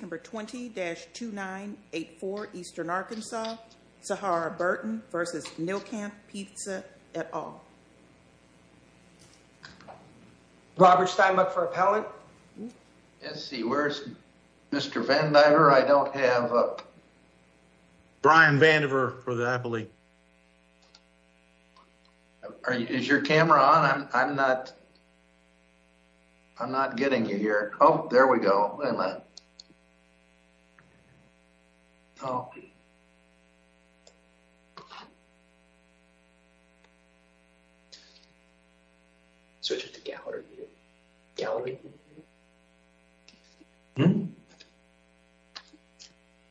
Number 20-2984 Eastern Arkansas. Sahara Burton v. Nilkanth Pizza at all. Robert Steinmuck for appellate. Let's see, where's Mr. Vandiver? I don't have... Brian Vandiver for the appellate. Is your camera on? I'm not... I'm not getting you here. Oh, there we go. Oh. Switch it to gallery.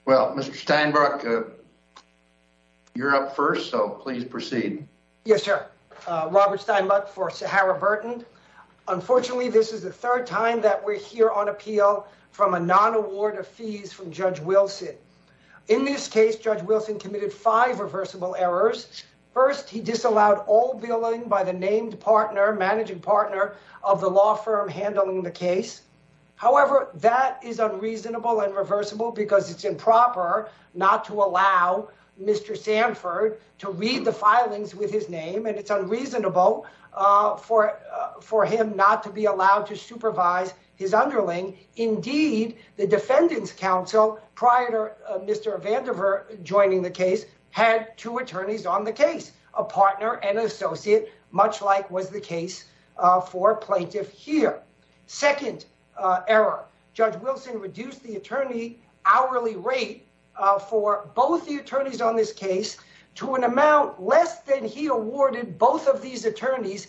Well, Mr. Steinmuck, you're up first, so please proceed. Yes, sir. Robert Steinmuck for Sahara of fees from Judge Wilson. In this case, Judge Wilson committed five reversible errors. First, he disallowed all billing by the named partner, managing partner of the law firm handling the case. However, that is unreasonable and reversible because it's improper not to allow Mr. Sanford to read the filings with his name, and it's unreasonable for him not to be allowed to prior to Mr. Vandiver joining the case, had two attorneys on the case, a partner and an associate, much like was the case for a plaintiff here. Second error, Judge Wilson reduced the attorney hourly rate for both the attorneys on this case to an amount less than he awarded both of these partners.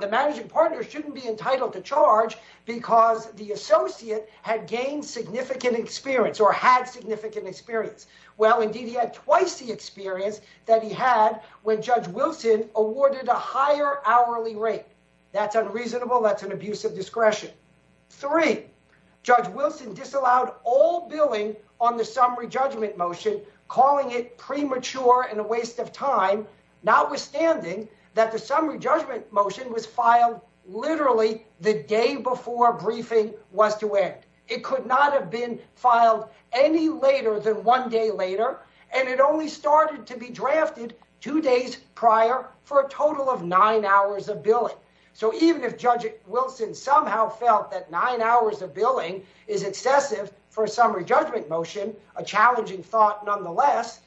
The managing partner shouldn't be entitled to charge because the associate had gained significant experience or had significant experience. Well, indeed, he had twice the experience that he had when Judge Wilson awarded a higher hourly rate. That's unreasonable. That's an abuse of discretion. Three, Judge Wilson disallowed all billing on the summary judgment motion, calling it premature and a waste of time, notwithstanding that the summary judgment motion was filed literally the day before briefing was to end. It could not have been filed any later than one day later, and it only started to be drafted two days prior for a total of nine hours of billing. So even if Judge Wilson somehow felt that nine hours of billing is excessive for a challenging thought, nonetheless,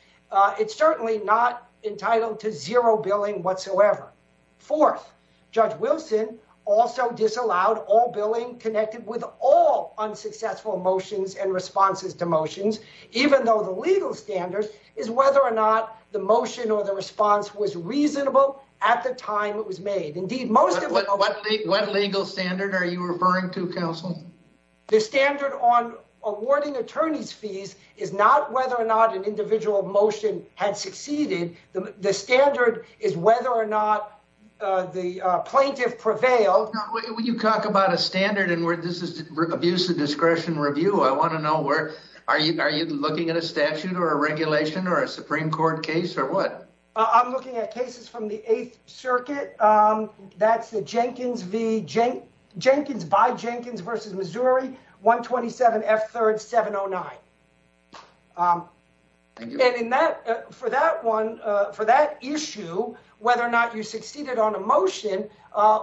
it's certainly not entitled to zero billing whatsoever. Fourth, Judge Wilson also disallowed all billing connected with all unsuccessful motions and responses to motions, even though the legal standard is whether or not the motion or the response was reasonable at the time it was made. Indeed, most of what legal standard are you referring to, counsel? The standard on awarding attorney's fees is not whether or not an individual motion had succeeded. The standard is whether or not the plaintiff prevailed. When you talk about a standard and where this is abuse of discretion review, I want to know where are you? Are you looking at a statute or a regulation or a Supreme Court case or what? I'm looking at cases from the Missouri 127F3709. For that issue, whether or not you succeeded on a motion,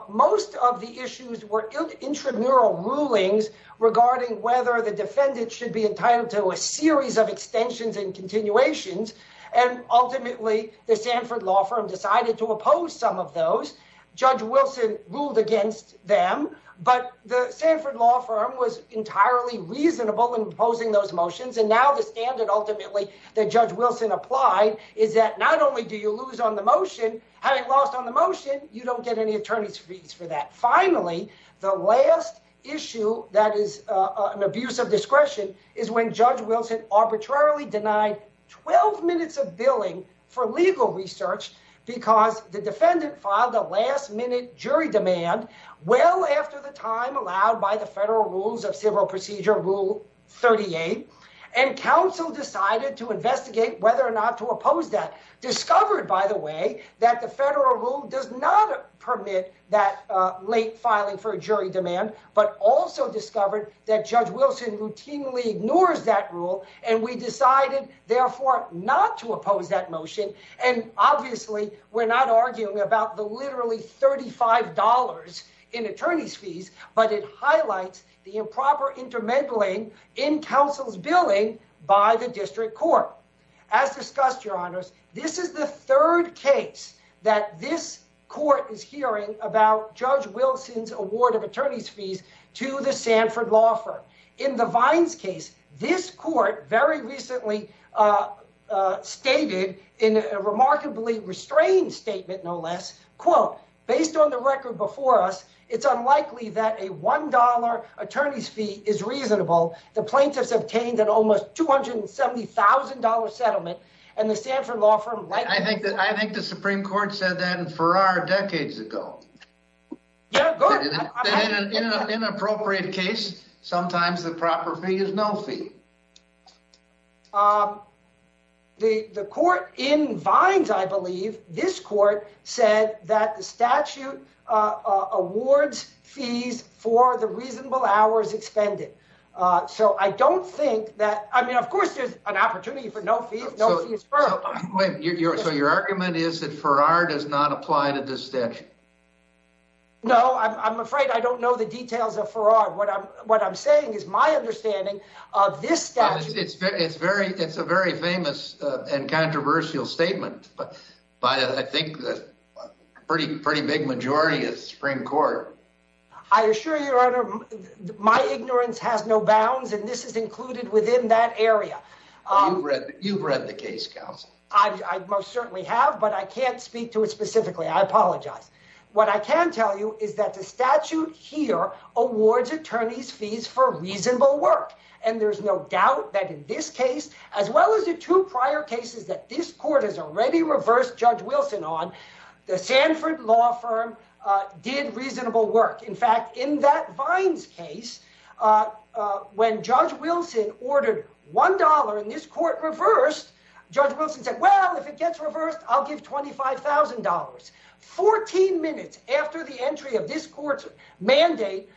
most of the issues were intramural rulings regarding whether the defendant should be entitled to a series of extensions and continuations, and ultimately the Sanford Law Firm decided to oppose some of those. Judge Wilson ruled against them, but the Sanford Law Firm was entirely reasonable in proposing those motions, and now the standard ultimately that Judge Wilson applied is that not only do you lose on the motion, having lost on the motion, you don't get any attorney's fees for that. Finally, the last issue that is an abuse of discretion is when Judge Wilson arbitrarily denied 12 minutes of billing for legal research because the defendant filed a last-minute jury demand well after the time allowed by the Federal Rules of Civil Procedure, Rule 38, and counsel decided to investigate whether or not to oppose that. Discovered, by the way, that the Federal Rule does not permit that late filing for a jury demand, but also discovered that Judge Wilson routinely ignores that rule, and we decided, therefore, not to oppose that motion, and obviously, we're not arguing about the literally $35 in attorney's fees, but it highlights the improper intermingling in counsel's billing by the district court. As discussed, Your Honors, this is the third case that this court is hearing about Judge Wilson's award of attorney's fees to the Sanford Law Firm. In the Vines case, this court very recently stated in a remarkably restrained statement, no less, quote, based on the record before us, it's unlikely that a $1 attorney's fee is reasonable. The plaintiffs obtained an almost $270,000 settlement, and the Sanford Law Firm... I think the Supreme Court said that in Farrar decades ago. Yeah, go ahead. Inappropriate case, sometimes the proper fee is no fee. The court in Vines, I believe, this court said that the statute awards fees for the reasonable hours expended, so I don't think that... I mean, of course, there's an opportunity for no fee. So your argument is that Farrar does not apply to this statute? No, I'm afraid I don't know the details of Farrar. What I'm saying is my understanding of this statute... It's a very famous and controversial statement by, I think, a pretty big majority of the Supreme Court. I assure you, Your Honor, my ignorance has no bounds, and this is included within that area. You've read the case, counsel. I most certainly have, but I can't speak to it specifically. I apologize. What I can tell you is that the statute here awards attorneys fees for reasonable work, and there's no doubt that in this case, as well as the two prior cases that this court has already reversed Judge Wilson on, the Sanford Law Firm did reasonable work. In fact, in that Vines case, when Judge Wilson ordered $1 and this court reversed, Judge Wilson said, well, if it gets reversed, I'll give $25,000. 14 minutes after the entry of this court's mandate,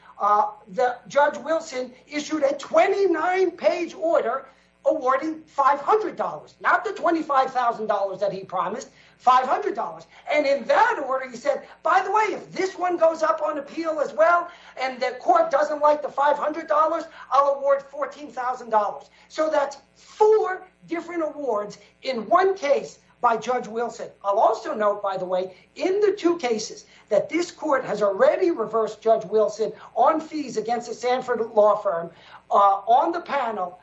Judge Wilson issued a 29-page order awarding $500, not the $25,000 that he promised, $500. And in that order, he said, by the way, if this one goes up on appeal as well, and the court doesn't like the $500, I'll award $14,000. So that's four different awards in one case by Judge Wilson. I'll also note, by the way, in the two cases that this court has already reversed Judge Wilson on fees against the Sanford Law Firm, on the panel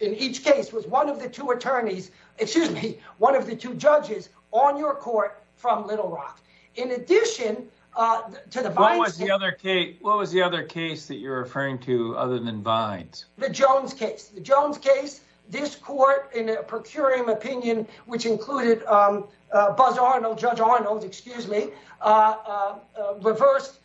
in each case was one of the two attorneys, excuse me, one of the two judges on your court from Little Rock. In addition to the Vines case- What was the other case that you're referring to other than Vines? The Jones case. The Jones case, this court in a procuring opinion, which included Judge Arnold, excuse me, reversed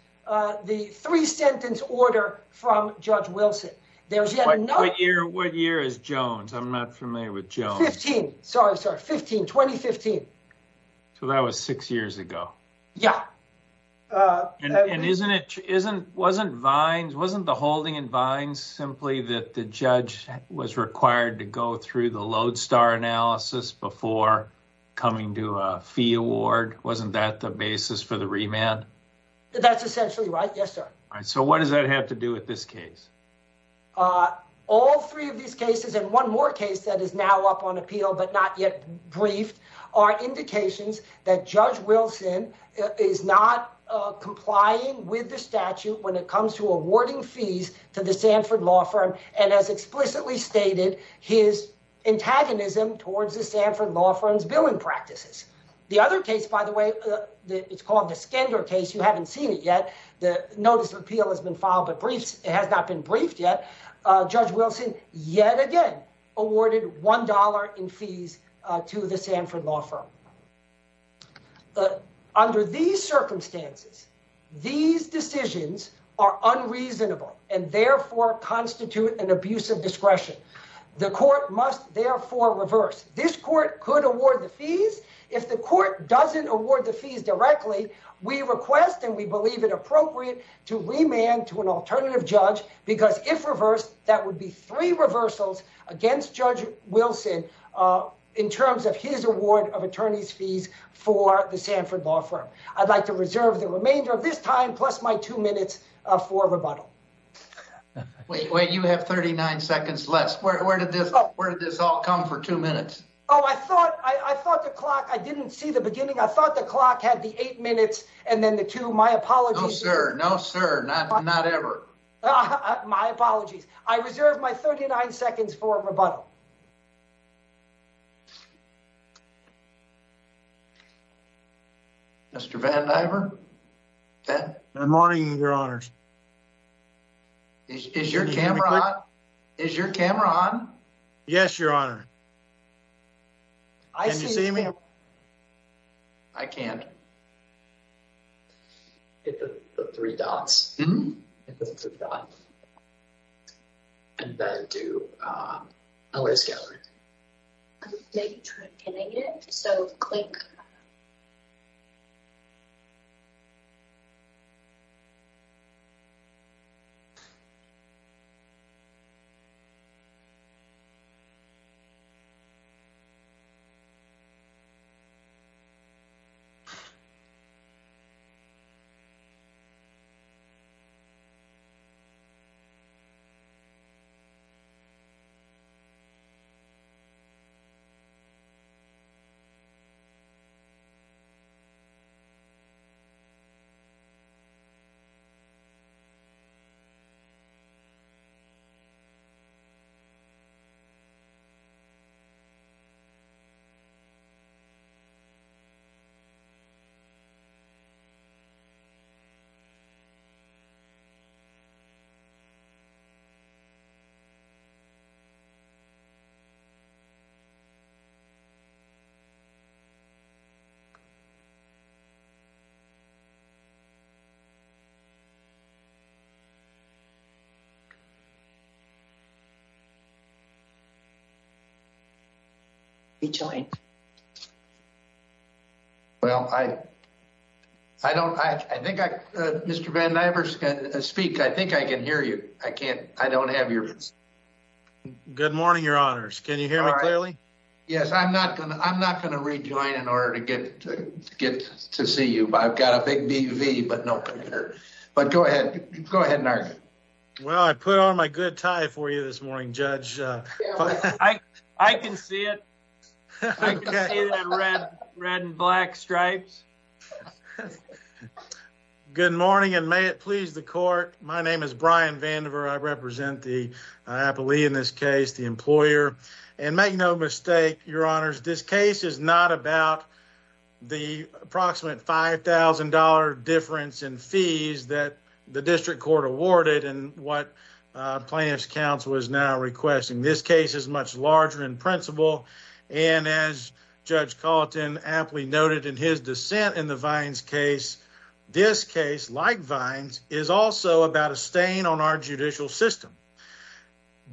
the three-sentence order from Judge Wilson. There's yet another- What year is Jones? I'm not familiar with Jones. 15. Sorry, sorry. 15, 2015. So that was six years ago. Yeah. And wasn't the holding in Vines simply that the judge was required to go through the lodestar analysis before coming to a fee award? Wasn't that the basis for the remand? That's essentially right, yes, sir. So what does that have to do with this case? All three of these cases, and one more case that is now up on appeal but not yet complying with the statute when it comes to awarding fees to the Sanford Law Firm, and as explicitly stated, his antagonism towards the Sanford Law Firm's billing practices. The other case, by the way, it's called the Skender case. You haven't seen it yet. The notice of appeal has been filed, but it has not been briefed yet. Judge Wilson, yet again, awarded $1 in fees to the Sanford Law Firm. Now, under these circumstances, these decisions are unreasonable and, therefore, constitute an abuse of discretion. The court must, therefore, reverse. This court could award the fees. If the court doesn't award the fees directly, we request, and we believe it appropriate, to remand to an alternative judge because, if reversed, that would be three reversals against Judge Wilson in terms of his award of attorney's fees for the Sanford Law Firm. I'd like to reserve the remainder of this time plus my two minutes for rebuttal. Wait, wait. You have 39 seconds left. Where did this all come for two minutes? Oh, I thought the clock, I didn't see the beginning. I thought the clock had the eight minutes and then the two. My apologies. No, sir. No, sir. Not ever. My apologies. I reserve my 39 seconds for rebuttal. Mr. Van Diver? Good morning, your honors. Is your camera on? Yes, your honor. Can you see me? I can't. Hit the three dots. And then do a layers gallery. Can I get it? So, click. We join. Well, I don't, I think I, Mr. Van Diver speak. I think I can hear you. I can't. I don't have your. Good morning, your honors. Can you hear me clearly? Yes, I'm not going to. I'm not going to rejoin in order to get to get to see you. But I've got a big DV, but no. But go ahead. Go ahead. Well, I put on my good tie for you this morning, Judge. I can see it. I can see the red, red and black stripes. Good morning and may it please the court. My name is Brian Van Diver. I represent the happily in this case, the employer and make no mistake. Your honors, this case is not about. The approximate $5000 difference in fees that the district court awarded and what plaintiff's counsel is now requesting. This case is much larger in principle. And as Judge Colton aptly noted in his dissent in the Vines case. This case like vines is also about a stain on our judicial system.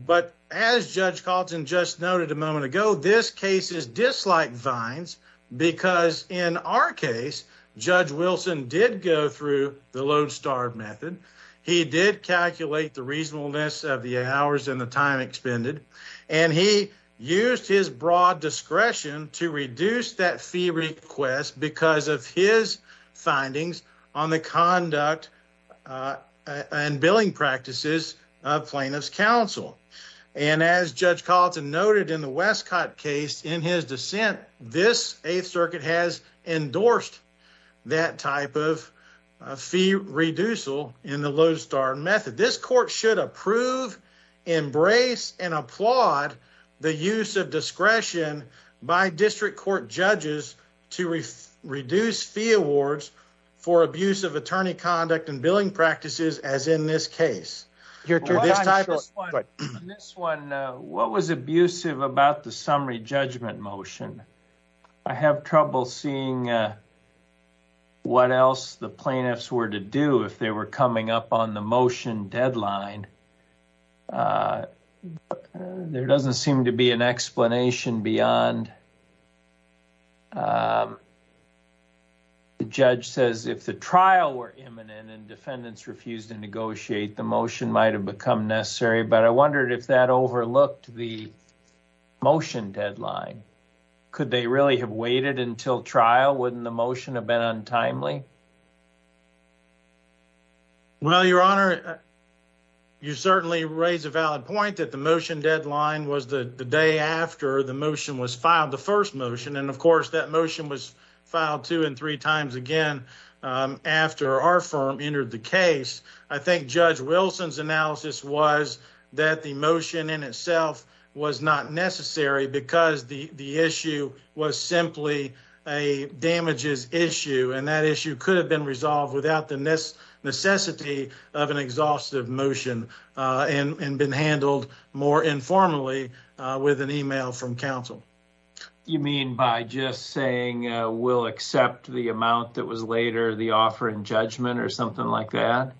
But as Judge Colton just noted a moment ago, this case is dislike vines. Because in our case, Judge Wilson did go through the Lone Star method. He did calculate the reasonableness of the hours and the time expended. And he used his broad discretion to reduce that fee request because of his findings on the conduct and billing practices of plaintiff's counsel. And as Judge Colton noted in the Westcott case in his dissent, this 8th Circuit has endorsed that type of fee reducal in the Lone Star method. This court should approve, embrace and applaud the use of discretion by district court judges to reduce fee awards for abuse of attorney conduct and billing practices as in this case. In this one, what was abusive about the summary judgment motion? I have trouble seeing what else the plaintiffs were to do if they were coming up on the motion deadline. There doesn't seem to be an explanation beyond the judge says if the trial were imminent and defendants refused to negotiate, the motion might have become necessary. But I wondered if that overlooked the motion deadline. Could they really have waited until trial? Wouldn't the motion have been untimely? Well, your honor, you certainly raise a valid point that the motion deadline was the day after the motion was filed, the first motion. And of course, that motion was filed two and three times again after our firm entered the case. I think Judge Wilson's analysis was that the motion in itself was not necessary because the issue was simply a damages issue. That issue could have been resolved without the necessity of an exhaustive motion and been handled more informally with an email from counsel. You mean by just saying we'll accept the amount that was later the offer in judgment or something like that?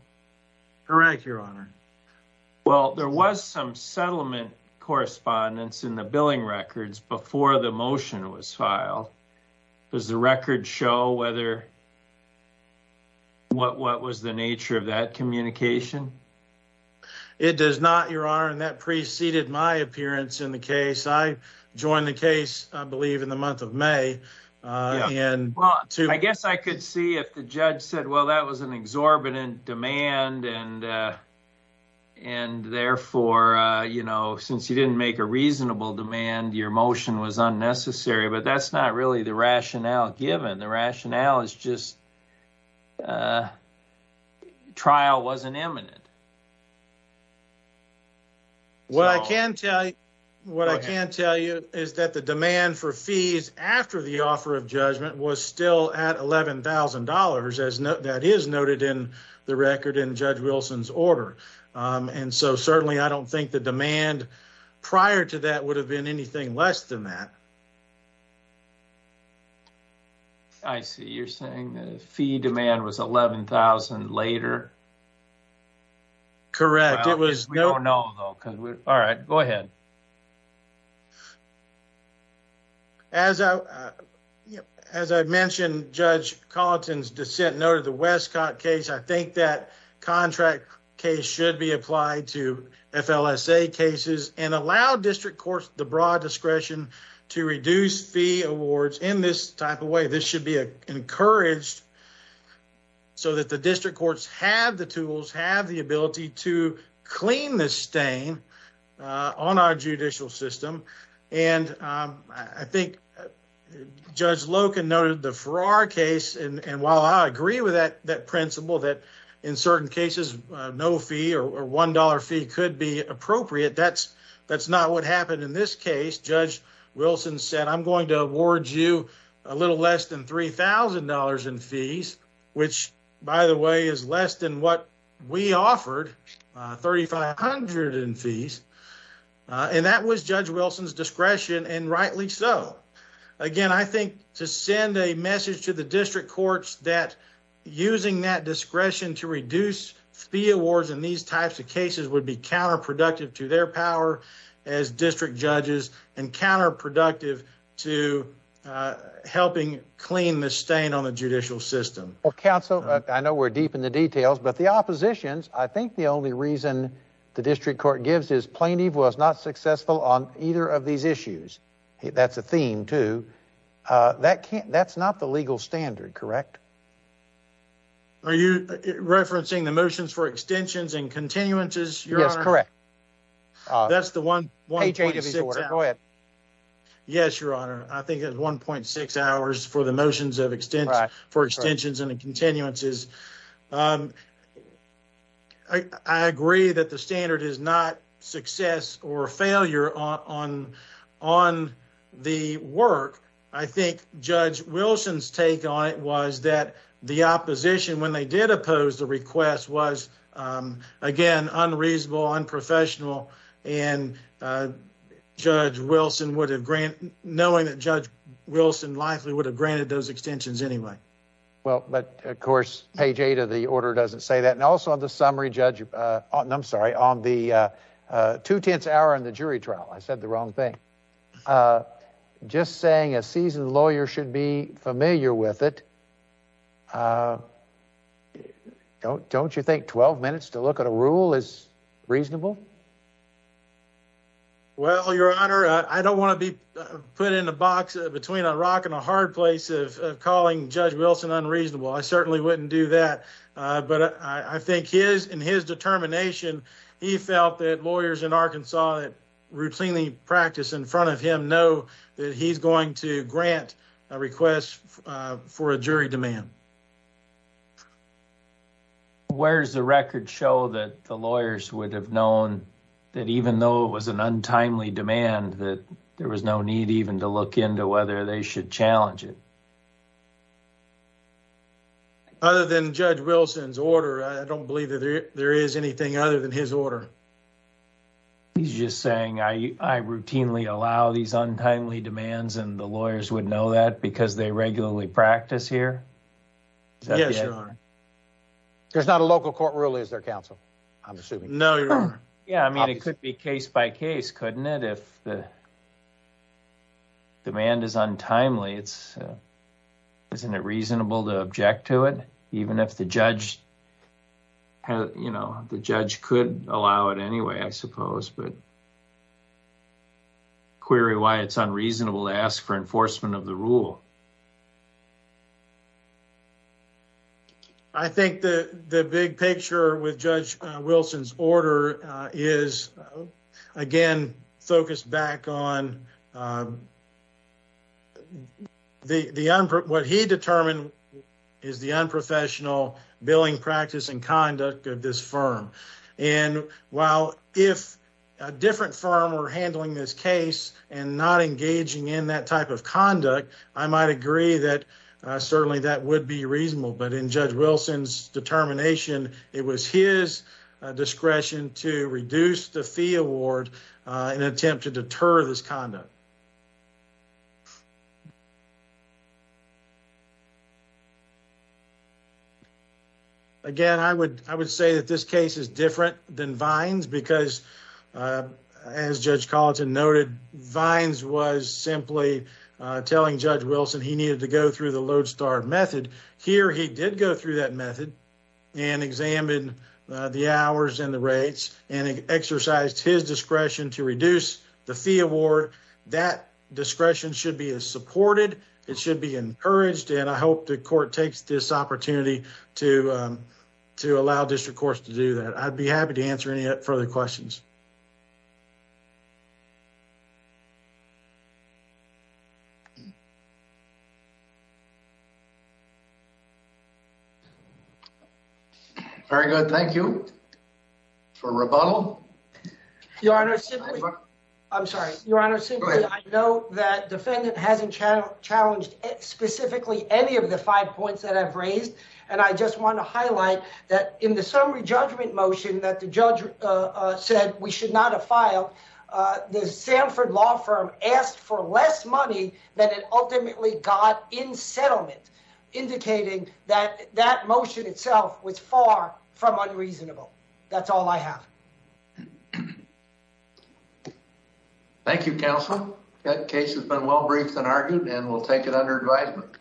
Correct, your honor. Well, there was some settlement correspondence in the billing records before the motion was filed. Does the record show what was the nature of that communication? It does not, your honor, and that preceded my appearance in the case. I joined the case, I believe, in the month of May. I guess I could see if the judge said, well, that was an exorbitant demand and therefore, since you didn't make a reasonable demand, your motion was unnecessary. That's not really the rationale given. The rationale is just trial wasn't imminent. What I can tell you is that the demand for fees after the offer of judgment was still at $11,000, as that is noted in the record in Judge Wilson's order. Certainly, I don't think the demand prior to that would have been anything less than that. I see. You're saying the fee demand was $11,000 later? Correct. We don't know, though. All right, go ahead. As I mentioned, Judge Colleton's dissent noted the Westcott case. I think that contract case should be applied to FLSA cases and allow district courts the discretion to reduce fee awards in this type of way. This should be encouraged so that the district courts have the tools, have the ability to clean the stain on our judicial system. I think Judge Loken noted the Farrar case. While I agree with that principle that in certain cases, no fee or $1 fee could be appropriate, that's not what happened in this case. Judge Wilson said, I'm going to award you a little less than $3,000 in fees, which, by the way, is less than what we offered, $3,500 in fees. And that was Judge Wilson's discretion, and rightly so. Again, I think to send a message to the district courts that using that discretion to reduce fee awards in these types of cases would be counterproductive to their power as district judges and counterproductive to helping clean the stain on the judicial system. Well, counsel, I know we're deep in the details, but the oppositions, I think the only reason the district court gives is plaintiff was not successful on either of these issues. That's a theme, too. That's not the legal standard, correct? Are you referencing the motions for extensions and continuances, Your Honor? Yes, correct. That's the 1.6 hours. Go ahead. Yes, Your Honor. I think it's 1.6 hours for the motions of extensions and continuances. I agree that the standard is not success or failure on the work. I think Judge Wilson's take on it was that the opposition, when they did oppose the request, was, again, unreasonable, unprofessional, and knowing that Judge Wilson likely would have granted those extensions anyway. Well, but of course, page eight of the order doesn't say that. And also on the summary, Judge, I'm sorry, on the two-tenths hour in the jury trial, I said the wrong thing. I'm just saying a seasoned lawyer should be familiar with it. Don't you think 12 minutes to look at a rule is reasonable? Well, Your Honor, I don't want to be put in a box between a rock and a hard place of calling Judge Wilson unreasonable. I certainly wouldn't do that. But I think in his determination, he felt that lawyers in Arkansas that routinely practice in front of him know that he's going to grant a request for a jury demand. Where's the record show that the lawyers would have known that even though it was an untimely demand, that there was no need even to look into whether they should challenge it? Other than Judge Wilson's order, I don't believe that there is anything other than his order. He's just saying, I routinely allow these untimely demands and the lawyers would know that because they regularly practice here? Yes, Your Honor. There's not a local court ruling as their counsel, I'm assuming. No, Your Honor. Yeah, I mean, it could be case by case, couldn't it? If the demand is untimely, isn't it reasonable to object to it? Even if the judge could allow it anyway, I suppose, but query why it's unreasonable to ask for enforcement of the rule. I think the big picture with Judge Wilson's order is, again, focused back on the unprofessional billing practice and conduct of this firm. While if a different firm were handling this case and not engaging in that type of conduct, I might agree that certainly that would be reasonable. But in Judge Wilson's determination, it was his discretion to reduce the fee award in an attempt to deter this conduct. Again, I would say that this case is different than Vines because, as Judge Colleton noted, Vines was simply telling Judge Wilson he needed to go through the Lodestar method. Here, he did go through that method and examined the hours and the rates and exercised his discretion to reduce the fee award. That discretion should be supported. It should be encouraged. And I hope the court takes this opportunity to allow district courts to do that. I'd be happy to answer any further questions. Very good. Thank you for rebuttal. Your Honor, I'm sorry. Your Honor, simply, I know that defendant hasn't challenged specifically any of the five points that I've raised. And I just want to highlight that in the summary judgment motion that the judge said we should not have filed, the Sanford law firm asked for less money than it ultimately got in settlement, indicating that that motion itself was far from unreasonable. That's all I have. Thank you, counsel. That case has been well briefed and argued and we'll take it under advisement.